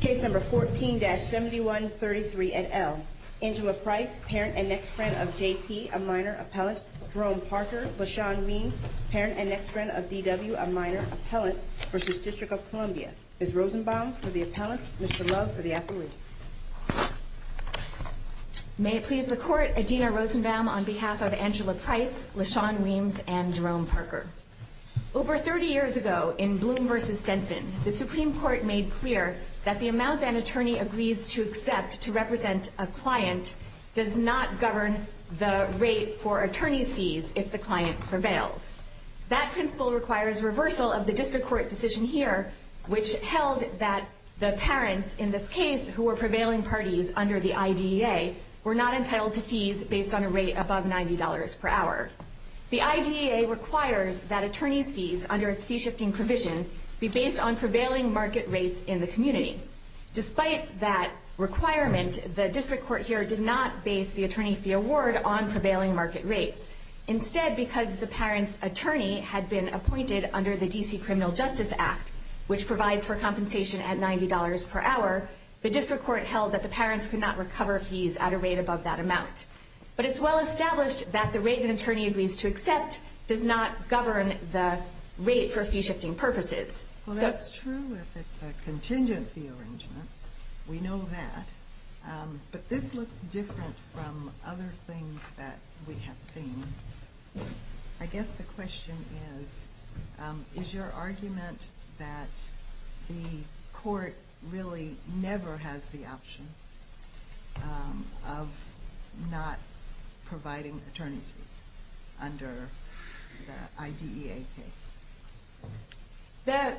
Case number 14-7133 at L. Angela Price, parent and next friend of J.P., a minor appellant, Jerome Parker, LaShawn Weems, parent and next friend of D.W., a minor appellant, v. District of Columbia. Ms. Rosenbaum for the appellants, Mr. Love for the appellate. May it please the Court, Adina Rosenbaum on behalf of Angela Price, LaShawn Weems, and Jerome Parker. Over 30 years ago, in Bloom v. Stenson, the Supreme Court made clear that the amount an attorney agrees to accept to represent a client does not govern the rate for attorney's fees if the client prevails. That principle requires reversal of the District Court decision here, which held that the parents, in this case, who were prevailing parties under the IDEA, were not entitled to fees based on a rate above $90 per hour. The IDEA requires that attorney's fees, under its fee-shifting provision, be based on prevailing market rates in the community. Despite that requirement, the District Court here did not base the attorney fee award on prevailing market rates. Instead, because the parent's attorney had been appointed under the D.C. Criminal Justice Act, which provides for compensation at $90 per hour, the District Court held that the parents could not recover fees at a rate above that amount. But it's well established that the rate an attorney agrees to accept does not govern the rate for fee-shifting purposes. Well, that's true if it's a contingent fee arrangement. We know that. But this looks different from other things that we have seen. I guess the question is, is your argument that the Court really never has the option of not providing attorney's fees under the IDEA case? The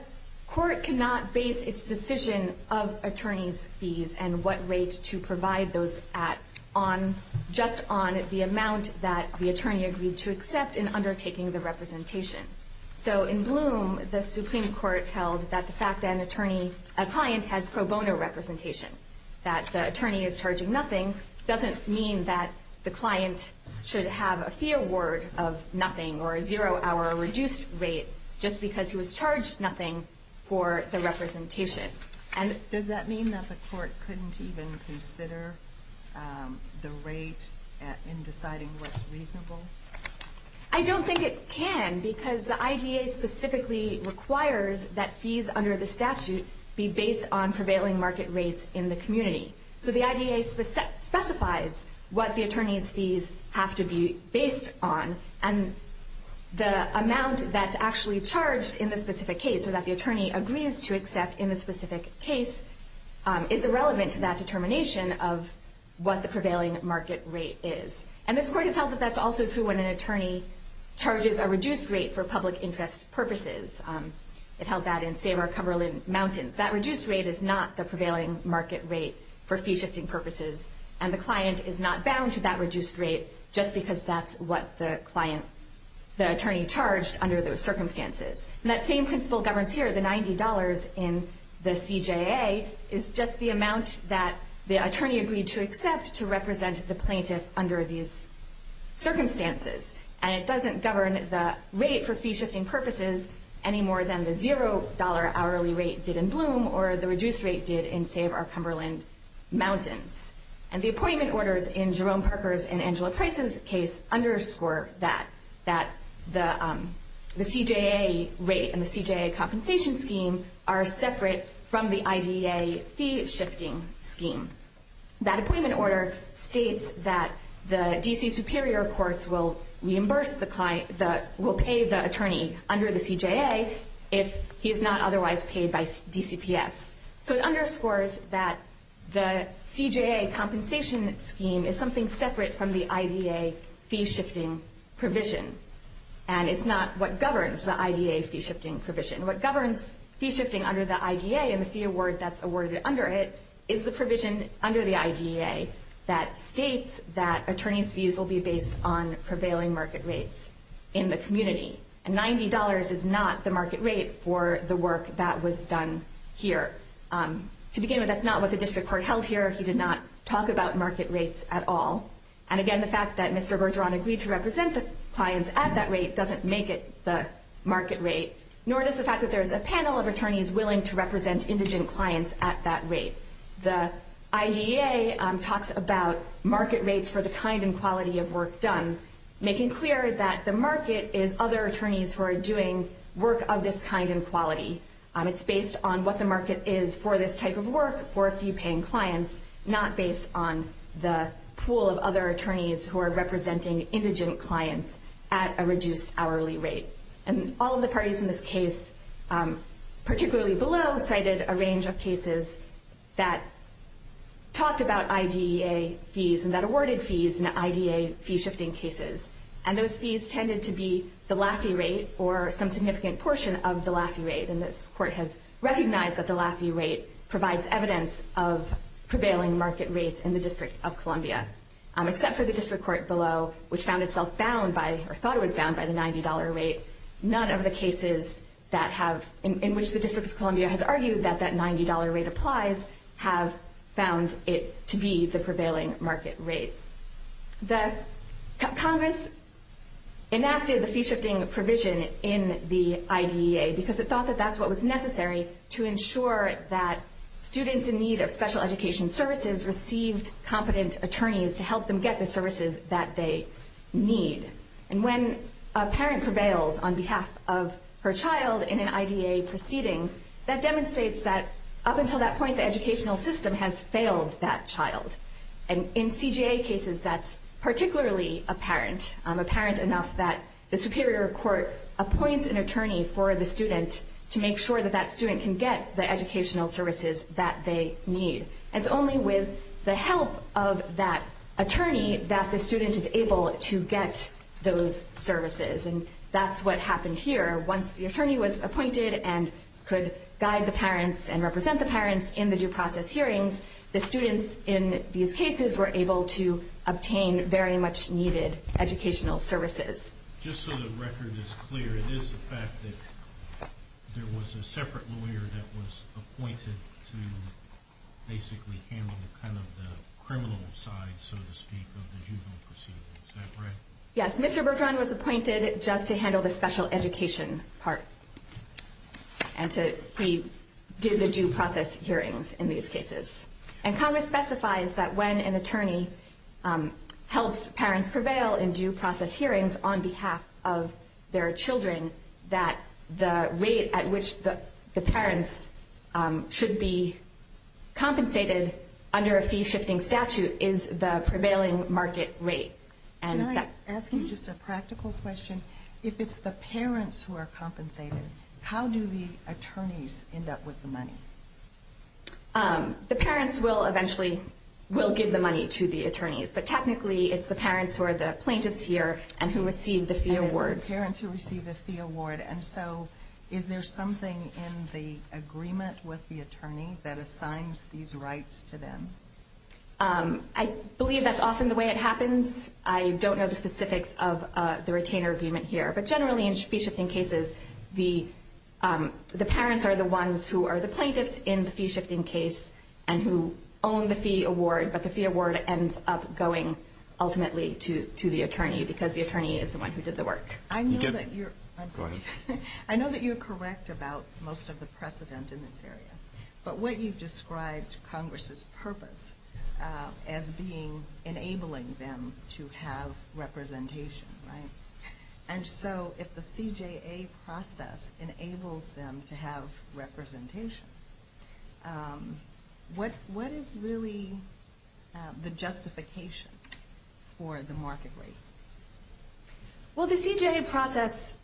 Court cannot base its decision of attorney's fees and what rate to provide those at just on the amount that the attorney agreed to accept in undertaking the representation. So in Bloom, the Supreme Court held that the fact that a client has pro bono representation, that the attorney is charging nothing, doesn't mean that the client should have a fee award of nothing or a zero-hour reduced rate just because he was charged nothing for the representation. Does that mean that the Court couldn't even consider the rate in deciding what's reasonable? I don't think it can, because the IDEA specifically requires that fees under the statute be based on prevailing market rates in the community. So the IDEA specifies what the attorney's fees have to be based on, and the amount that's actually charged in the specific case or that the attorney agrees to accept in the specific case is irrelevant to that determination of what the prevailing market rate is. And this Court has held that that's also true when an attorney charges a reduced rate for public interest purposes. It held that in Save Our Cumberland Mountains. That reduced rate is not the prevailing market rate for fee-shifting purposes, and the client is not bound to that reduced rate just because that's what the attorney charged under those circumstances. And that same principle governs here, the $90 in the CJA is just the amount that the attorney agreed to accept to represent the plaintiff under these circumstances. And it doesn't govern the rate for fee-shifting purposes any more than the $0 hourly rate did in Bloom or the reduced rate did in Save Our Cumberland Mountains. And the appointment orders in Jerome Parker's and Angela Price's case underscore that the CJA rate and the CJA compensation scheme are separate from the IDEA fee-shifting scheme. That appointment order states that the D.C. Superior Courts will reimburse the client, will pay the attorney under the CJA if he is not otherwise paid by DCPS. So it underscores that the CJA compensation scheme is something separate from the IDEA fee-shifting provision. And it's not what governs the IDEA fee-shifting provision. What governs fee-shifting under the IDEA and the fee award that's awarded under it is the provision under the IDEA that states that attorney's fees will be based on prevailing market rates in the community. And $90 is not the market rate for the work that was done here. To begin with, that's not what the district court held here. He did not talk about market rates at all. And again, the fact that Mr. Bergeron agreed to represent the clients at that rate doesn't make it the market rate, nor does the fact that there's a panel of attorneys willing to represent indigent clients at that rate. The IDEA talks about market rates for the kind and quality of work done, making clear that the market is other attorneys who are doing work of this kind and quality. It's based on what the market is for this type of work for a few paying clients, not based on the pool of other attorneys who are representing indigent clients at a reduced hourly rate. And all of the parties in this case, particularly below, cited a range of cases that talked about IDEA fees and that awarded fees in IDEA fee-shifting cases. And those fees tended to be the Laffey rate or some significant portion of the Laffey rate. And this court has recognized that the Laffey rate provides evidence of prevailing market rates in the District of Columbia, except for the District Court below, which found itself bound by, or thought it was bound by, the $90 rate. None of the cases that have, in which the District of Columbia has argued that that $90 rate applies, have found it to be the prevailing market rate. Congress enacted the fee-shifting provision in the IDEA because it thought that that's what was necessary to ensure that students in need of special education services received competent attorneys to help them get the services that they need. And when a parent prevails on behalf of her child in an IDEA proceeding, that demonstrates that up until that point, the educational system has failed that child. And in CJA cases, that's particularly apparent, apparent enough that the Superior Court appoints an attorney for the student to make sure that that student can get the educational services that they need. And it's only with the help of that attorney that the student is able to get those services. And that's what happened here. Once the attorney was appointed and could guide the parents and represent the parents in the due process hearings, the students in these cases were able to obtain very much needed educational services. Just so the record is clear, it is the fact that there was a separate lawyer that was appointed to basically handle kind of the criminal side, so to speak, of the juvenile proceedings. Is that right? Yes. Mr. Bergeron was appointed just to handle the special education part. And he did the due process hearings in these cases. And Congress specifies that when an attorney helps parents prevail in due process hearings on behalf of their children, that the rate at which the parents should be compensated under a fee-shifting statute is the prevailing market rate. Can I ask you just a practical question? If it's the parents who are compensated, how do the attorneys end up with the money? The parents will eventually give the money to the attorneys. But technically, it's the parents who are the plaintiffs here and who receive the fee awards. And it's the parents who receive the fee award. And so is there something in the agreement with the attorney that assigns these rights to them? I believe that's often the way it happens. I don't know the specifics of the retainer agreement here. But generally, in fee-shifting cases, the parents are the ones who are the plaintiffs in the fee-shifting case and who own the fee award. But the fee award ends up going ultimately to the attorney because the attorney is the one who did the work. I know that you're correct about most of the precedent in this area. But what you've described Congress's purpose as being enabling them to have representation, right? And so if the CJA process enables them to have representation, what is really the justification for the market rate? Well, the CJA process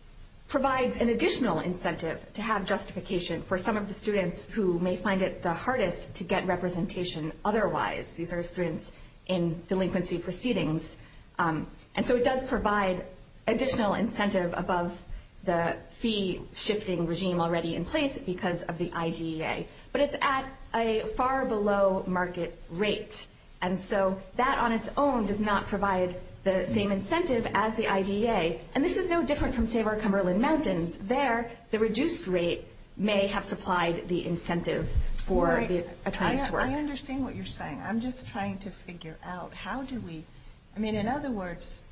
provides an additional incentive to have justification for some of the students who may find it the hardest to get representation otherwise. These are students in delinquency proceedings. And so it does provide additional incentive above the fee-shifting regime already in place because of the IDEA. But it's at a far below market rate. And so that on its own does not provide the same incentive as the IDEA. And this is no different from Save Our Cumberland Mountains. There, the reduced rate may have supplied the incentive for the attorneys to work. I understand what you're saying. I'm just trying to figure out how do we – I mean, in other words,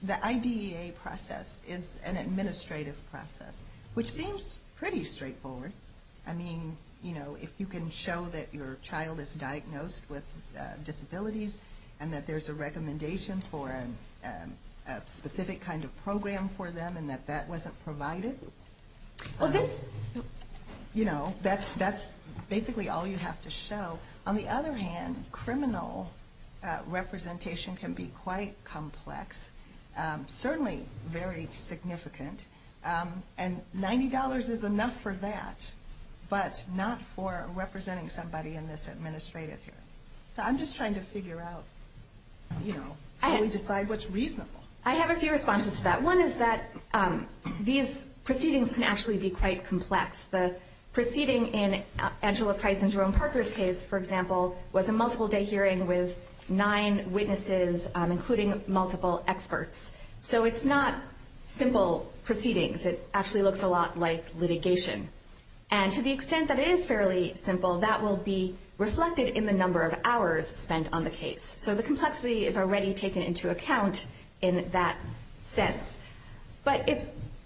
the IDEA process is an administrative process, which seems pretty straightforward. I mean, you know, if you can show that your child is diagnosed with disabilities and that there's a recommendation for a specific kind of program for them and that that wasn't provided, you know, that's basically all you have to show. On the other hand, criminal representation can be quite complex, certainly very significant. And $90 is enough for that, but not for representing somebody in this administrative here. So I'm just trying to figure out, you know, how we decide what's reasonable. I have a few responses to that. One is that these proceedings can actually be quite complex. The proceeding in Angela Price and Jerome Parker's case, for example, was a multiple-day hearing with nine witnesses, including multiple experts. So it's not simple proceedings. It actually looks a lot like litigation. And to the extent that it is fairly simple, that will be reflected in the number of hours spent on the case. So the complexity is already taken into account in that sense. But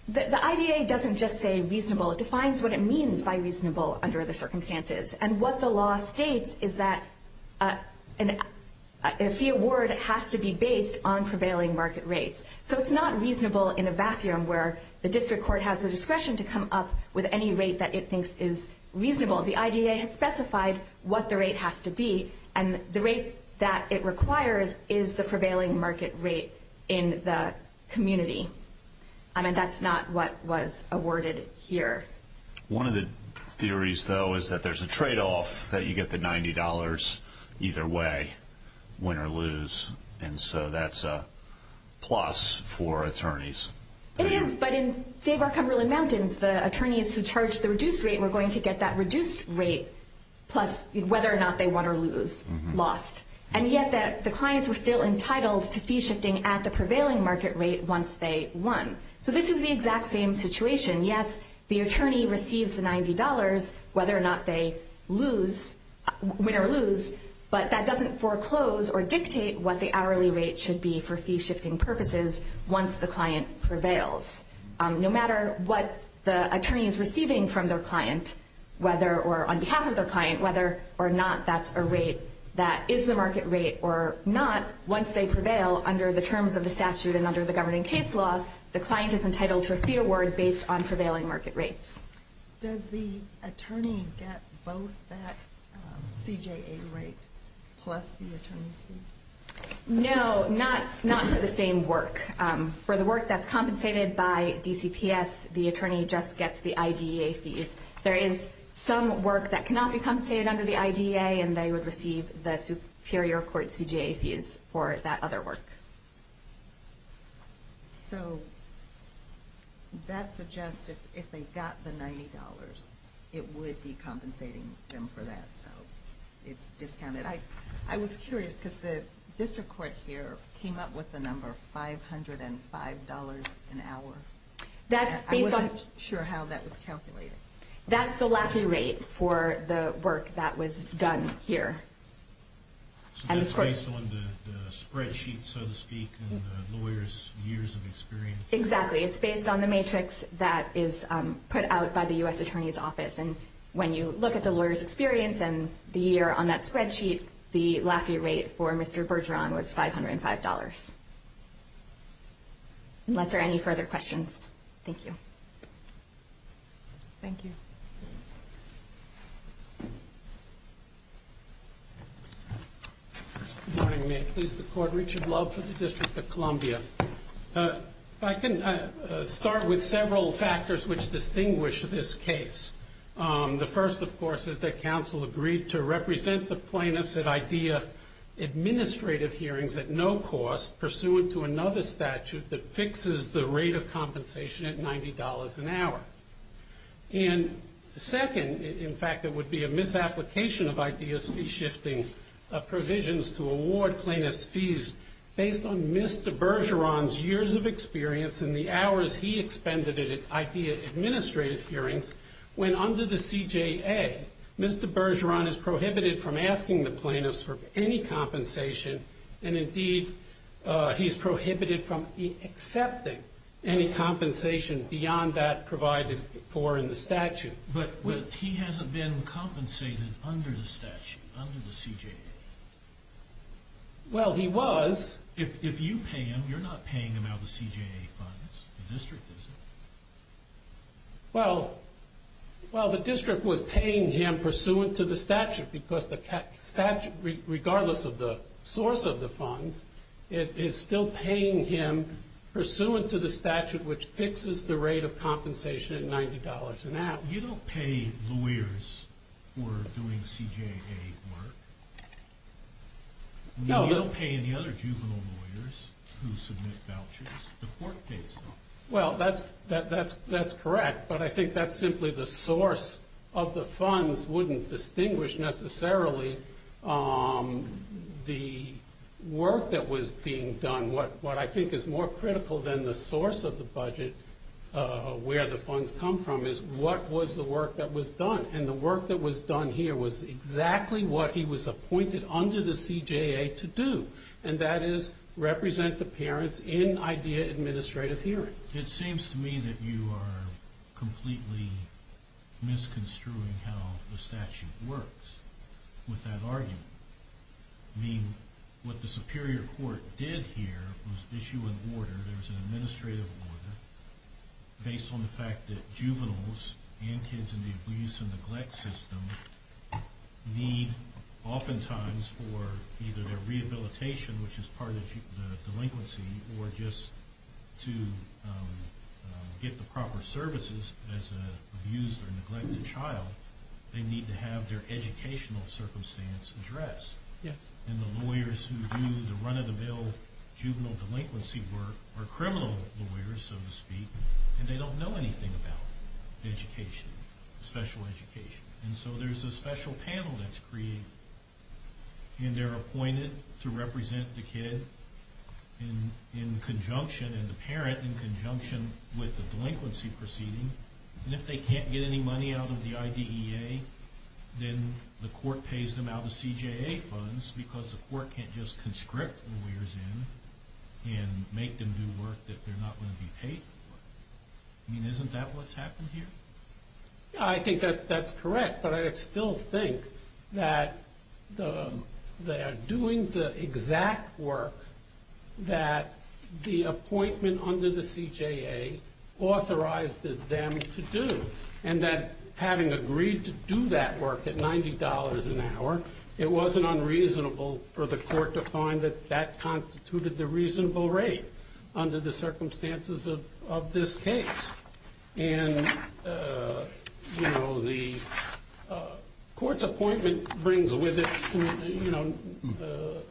the IDEA doesn't just say reasonable. It defines what it means by reasonable under the circumstances. And what the law states is that a fee award has to be based on prevailing market rates. So it's not reasonable in a vacuum where the district court has the discretion to come up with any rate that it thinks is reasonable. The IDEA has specified what the rate has to be, and the rate that it requires is the prevailing market rate in the community. And that's not what was awarded here. One of the theories, though, is that there's a tradeoff that you get the $90 either way, win or lose. And so that's a plus for attorneys. It is, but in Save Our Cumberland Mountains, the attorneys who charged the reduced rate were going to get that reduced rate plus whether or not they won or lose, lost. And yet the clients were still entitled to fee shifting at the prevailing market rate once they won. So this is the exact same situation. Yes, the attorney receives the $90 whether or not they win or lose, but that doesn't foreclose or dictate what the hourly rate should be for fee shifting purposes once the client prevails. No matter what the attorney is receiving from their client, whether or on behalf of their client, whether or not that's a rate that is the market rate or not, once they prevail under the terms of the statute and under the governing case law, the client is entitled to a fee award based on prevailing market rates. Does the attorney get both that CJA rate plus the attorney's fees? No, not for the same work. For the work that's compensated by DCPS, the attorney just gets the IDEA fees. There is some work that cannot be compensated under the IDEA, and they would receive the superior court CJA fees for that other work. So that suggests if they got the $90, it would be compensating them for that, so it's discounted. I was curious because the district court here came up with the number $505 an hour. I wasn't sure how that was calculated. That's the LAFI rate for the work that was done here. So that's based on the spreadsheet, so to speak, and the lawyer's years of experience? Exactly. It's based on the matrix that is put out by the U.S. Attorney's Office. And when you look at the lawyer's experience and the year on that spreadsheet, the LAFI rate for Mr. Bergeron was $505. Unless there are any further questions, thank you. Thank you. Good morning. May it please the Court. Richard Love for the District of Columbia. If I can start with several factors which distinguish this case. The first, of course, is that counsel agreed to represent the plaintiffs at IDEA administrative hearings at no cost, pursuant to another statute that fixes the rate of compensation at $90 an hour. And the second, in fact, it would be a misapplication of IDEA's fee-shifting provisions to award plaintiffs' fees based on Mr. Bergeron's years of experience and the hours he expended at IDEA administrative hearings, when under the CJA, Mr. Bergeron is prohibited from asking the plaintiffs for any compensation, and indeed he's prohibited from accepting any compensation beyond that provided for in the statute. But he hasn't been compensated under the statute, under the CJA. Well, he was. If you pay him, you're not paying him out of the CJA funds. The district isn't. Well, the district was paying him pursuant to the statute because the statute, regardless of the source of the funds, it is still paying him pursuant to the statute which fixes the rate of compensation at $90 an hour. You don't pay lawyers for doing CJA work. No. You don't pay any other juvenile lawyers who submit vouchers. The court pays them. Well, that's correct. But I think that's simply the source of the funds wouldn't distinguish necessarily the work that was being done. What I think is more critical than the source of the budget, where the funds come from, is what was the work that was done. And the work that was done here was exactly what he was appointed under the CJA to do, and that is represent the parents in IDEA administrative hearings. It seems to me that you are completely misconstruing how the statute works with that argument. I mean, what the Superior Court did here was issue an order. There was an administrative order based on the fact that juveniles and kids in the abuse and neglect system need oftentimes for either their rehabilitation, which is part of the delinquency, or just to get the proper services as an abused or neglected child, they need to have their educational circumstance addressed. And the lawyers who do the run-of-the-mill juvenile delinquency work are criminal lawyers, so to speak, and they don't know anything about education, special education. And so there's a special panel that's created, and they're appointed to represent the kid in conjunction, and the parent in conjunction with the delinquency proceeding. And if they can't get any money out of the IDEA, then the court pays them out of CJA funds because the court can't just conscript lawyers in and make them do work that they're not going to be paid for. I mean, isn't that what's happened here? I think that that's correct, but I still think that they're doing the exact work that the appointment under the CJA authorized them to do, and that having agreed to do that work at $90 an hour, it wasn't unreasonable for the court to find that that constituted the reasonable rate under the circumstances of this case. And, you know, the court's appointment brings with it, you know,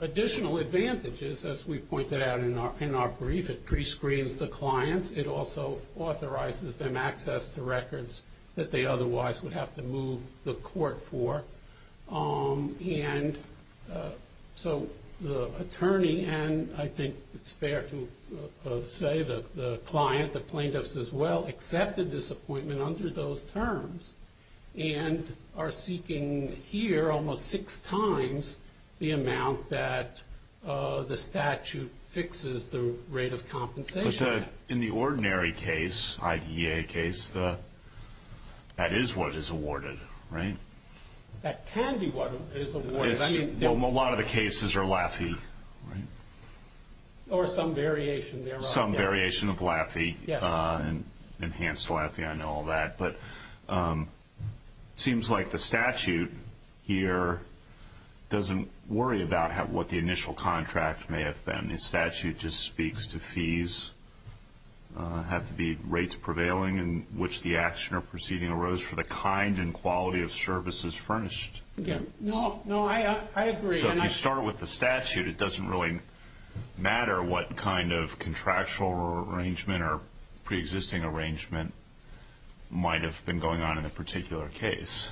additional advantages, as we pointed out in our brief. It prescreens the clients. It also authorizes them access to records that they otherwise would have to move the court for. And so the attorney, and I think it's fair to say the client, the plaintiffs as well, accepted this appointment under those terms and are seeking here almost six times the amount that the statute fixes the rate of compensation. But in the ordinary case, IDEA case, that is what is awarded, right? That can be what is awarded. A lot of the cases are LAFI, right? Or some variation thereof. Some variation of LAFI, enhanced LAFI, I know all that. But it seems like the statute here doesn't worry about what the initial contract may have been. The statute just speaks to fees. It has to be rates prevailing in which the action or proceeding arose for the kind and quality of services furnished. No, I agree. So if you start with the statute, it doesn't really matter what kind of contractual arrangement or preexisting arrangement might have been going on in a particular case.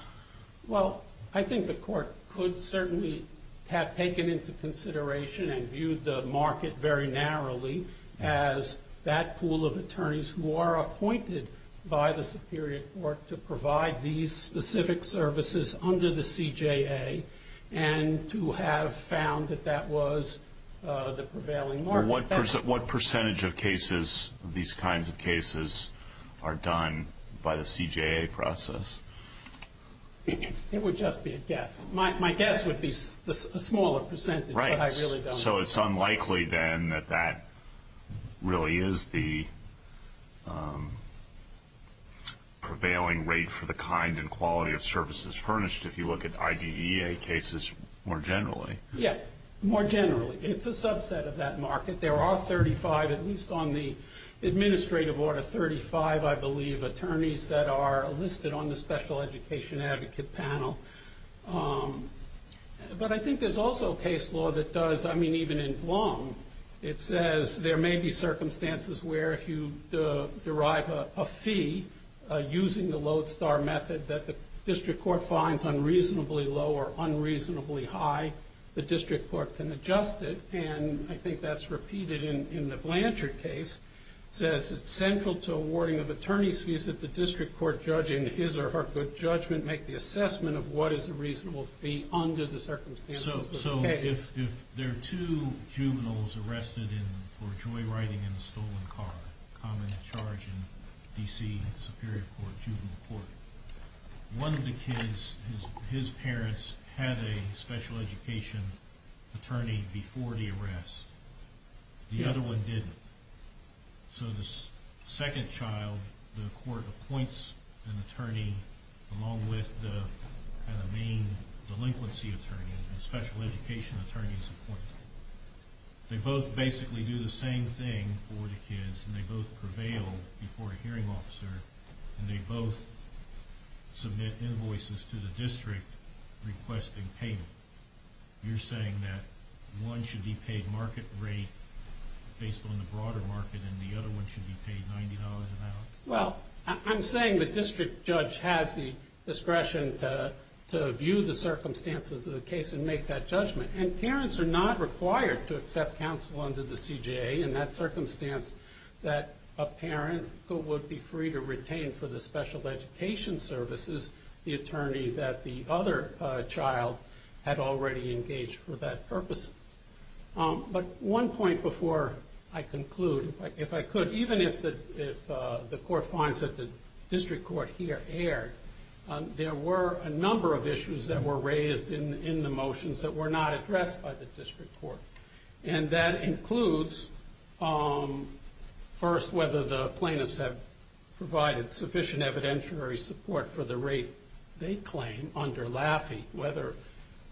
Well, I think the court could certainly have taken into consideration and viewed the market very narrowly as that pool of attorneys who are appointed by the superior court to provide these specific services under the CJA and to have found that that was the prevailing market. What percentage of cases, these kinds of cases, are done by the CJA process? It would just be a guess. My guess would be a smaller percentage, but I really don't know. So it's unlikely then that that really is the prevailing rate for the kind and quality of services furnished if you look at IDEA cases more generally. Yes, more generally. It's a subset of that market. There are 35, at least on the administrative order, 35, I believe, attorneys that are listed on the special education advocate panel. But I think there's also case law that does, I mean, even in Blum, it says there may be circumstances where if you derive a fee using the Lodestar method that the district court finds unreasonably low or unreasonably high, the district court can adjust it. And I think that's repeated in the Blanchard case. It says it's central to awarding of attorney's fees that the district court, judging his or her good judgment, make the assessment of what is a reasonable fee under the circumstances of the case. So if there are two juveniles arrested for joyriding in a stolen car, common charge in D.C. Superior Court, juvenile court, one of the kids, his parents, had a special education attorney before the arrest. The other one didn't. So the second child, the court appoints an attorney along with the main delinquency attorney. The special education attorney is appointed. They both basically do the same thing for the kids, and they both prevail before a hearing officer, and they both submit invoices to the district requesting payment. You're saying that one should be paid market rate based on the broader market, and the other one should be paid $90 an hour? Well, I'm saying the district judge has the discretion to view the circumstances of the case and make that judgment. And parents are not required to accept counsel under the CJA in that circumstance that a parent who would be free to retain for the special education services the attorney that the other child had already engaged for that purpose. But one point before I conclude, if I could, even if the court finds that the district court here erred, there were a number of issues that were raised in the motions that were not addressed by the district court. And that includes, first, whether the plaintiffs have provided sufficient evidentiary support for the rate they claim under Laffey.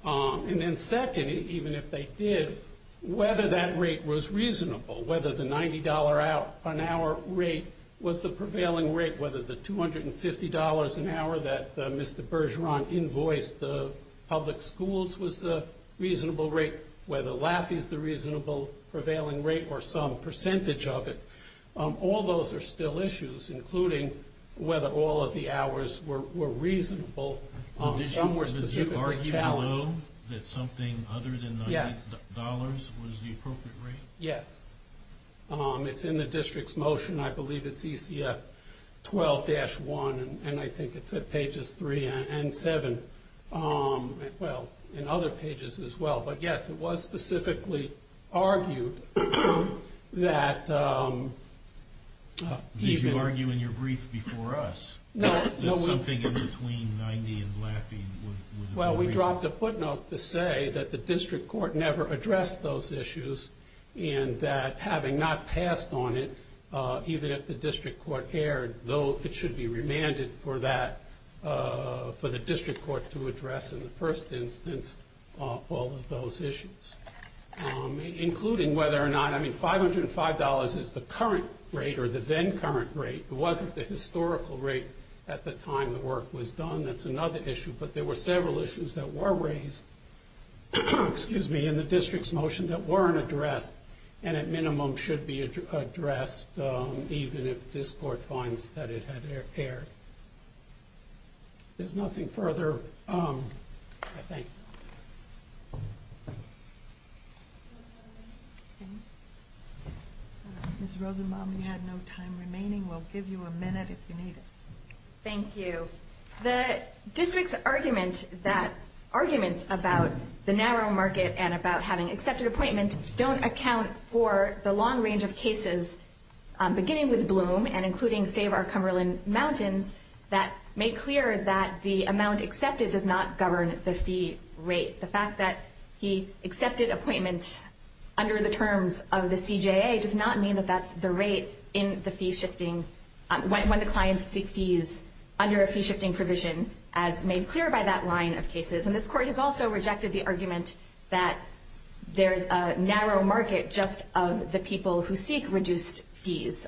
And then second, even if they did, whether that rate was reasonable, whether the $90 an hour rate was the prevailing rate, whether the $250 an hour that Mr. Bergeron invoiced the public schools was the reasonable rate, whether Laffey's the reasonable prevailing rate or some percentage of it. All those are still issues, including whether all of the hours were reasonable. Some were specifically challenged. Did you argue below that something other than $90 was the appropriate rate? Yes. It's in the district's motion. I believe it's ECF 12-1, and I think it's at pages 3 and 7. Well, and other pages as well. But, yes, it was specifically argued that even— Did you argue in your brief before us that something in between $90 and Laffey would have been reasonable? Well, we dropped a footnote to say that the district court never addressed those issues and that having not passed on it, even if the district court erred, though it should be remanded for the district court to address in the first instance all of those issues, including whether or not— I mean, $505 is the current rate or the then-current rate. It wasn't the historical rate at the time the work was done. That's another issue. But there were several issues that were raised in the district's motion that weren't addressed and, at minimum, should be addressed even if this court finds that it had erred. There's nothing further, I think. Ms. Rosenbaum, you had no time remaining. We'll give you a minute if you need it. Thank you. The district's argument that arguments about the narrow market and about having accepted appointment don't account for the long range of cases beginning with Bloom and including Save Our Cumberland Mountains, that made clear that the amount accepted does not govern the fee rate. The fact that he accepted appointment under the terms of the CJA does not mean that that's the rate when the clients seek fees under a fee-shifting provision, as made clear by that line of cases. And this court has also rejected the argument that there's a narrow market just of the people who seek reduced fees.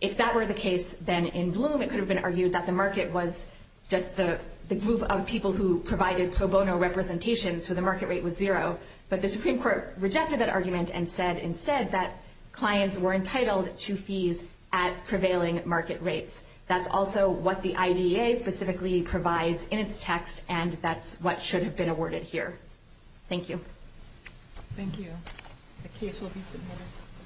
If that were the case, then in Bloom it could have been argued that the market was just the group of people who provided pro bono representation, so the market rate was zero. But the Supreme Court rejected that argument and said instead that clients were entitled to fees at prevailing market rates. That's also what the IDEA specifically provides in its text, and that's what should have been awarded here. Thank you. Thank you. The case will be submitted.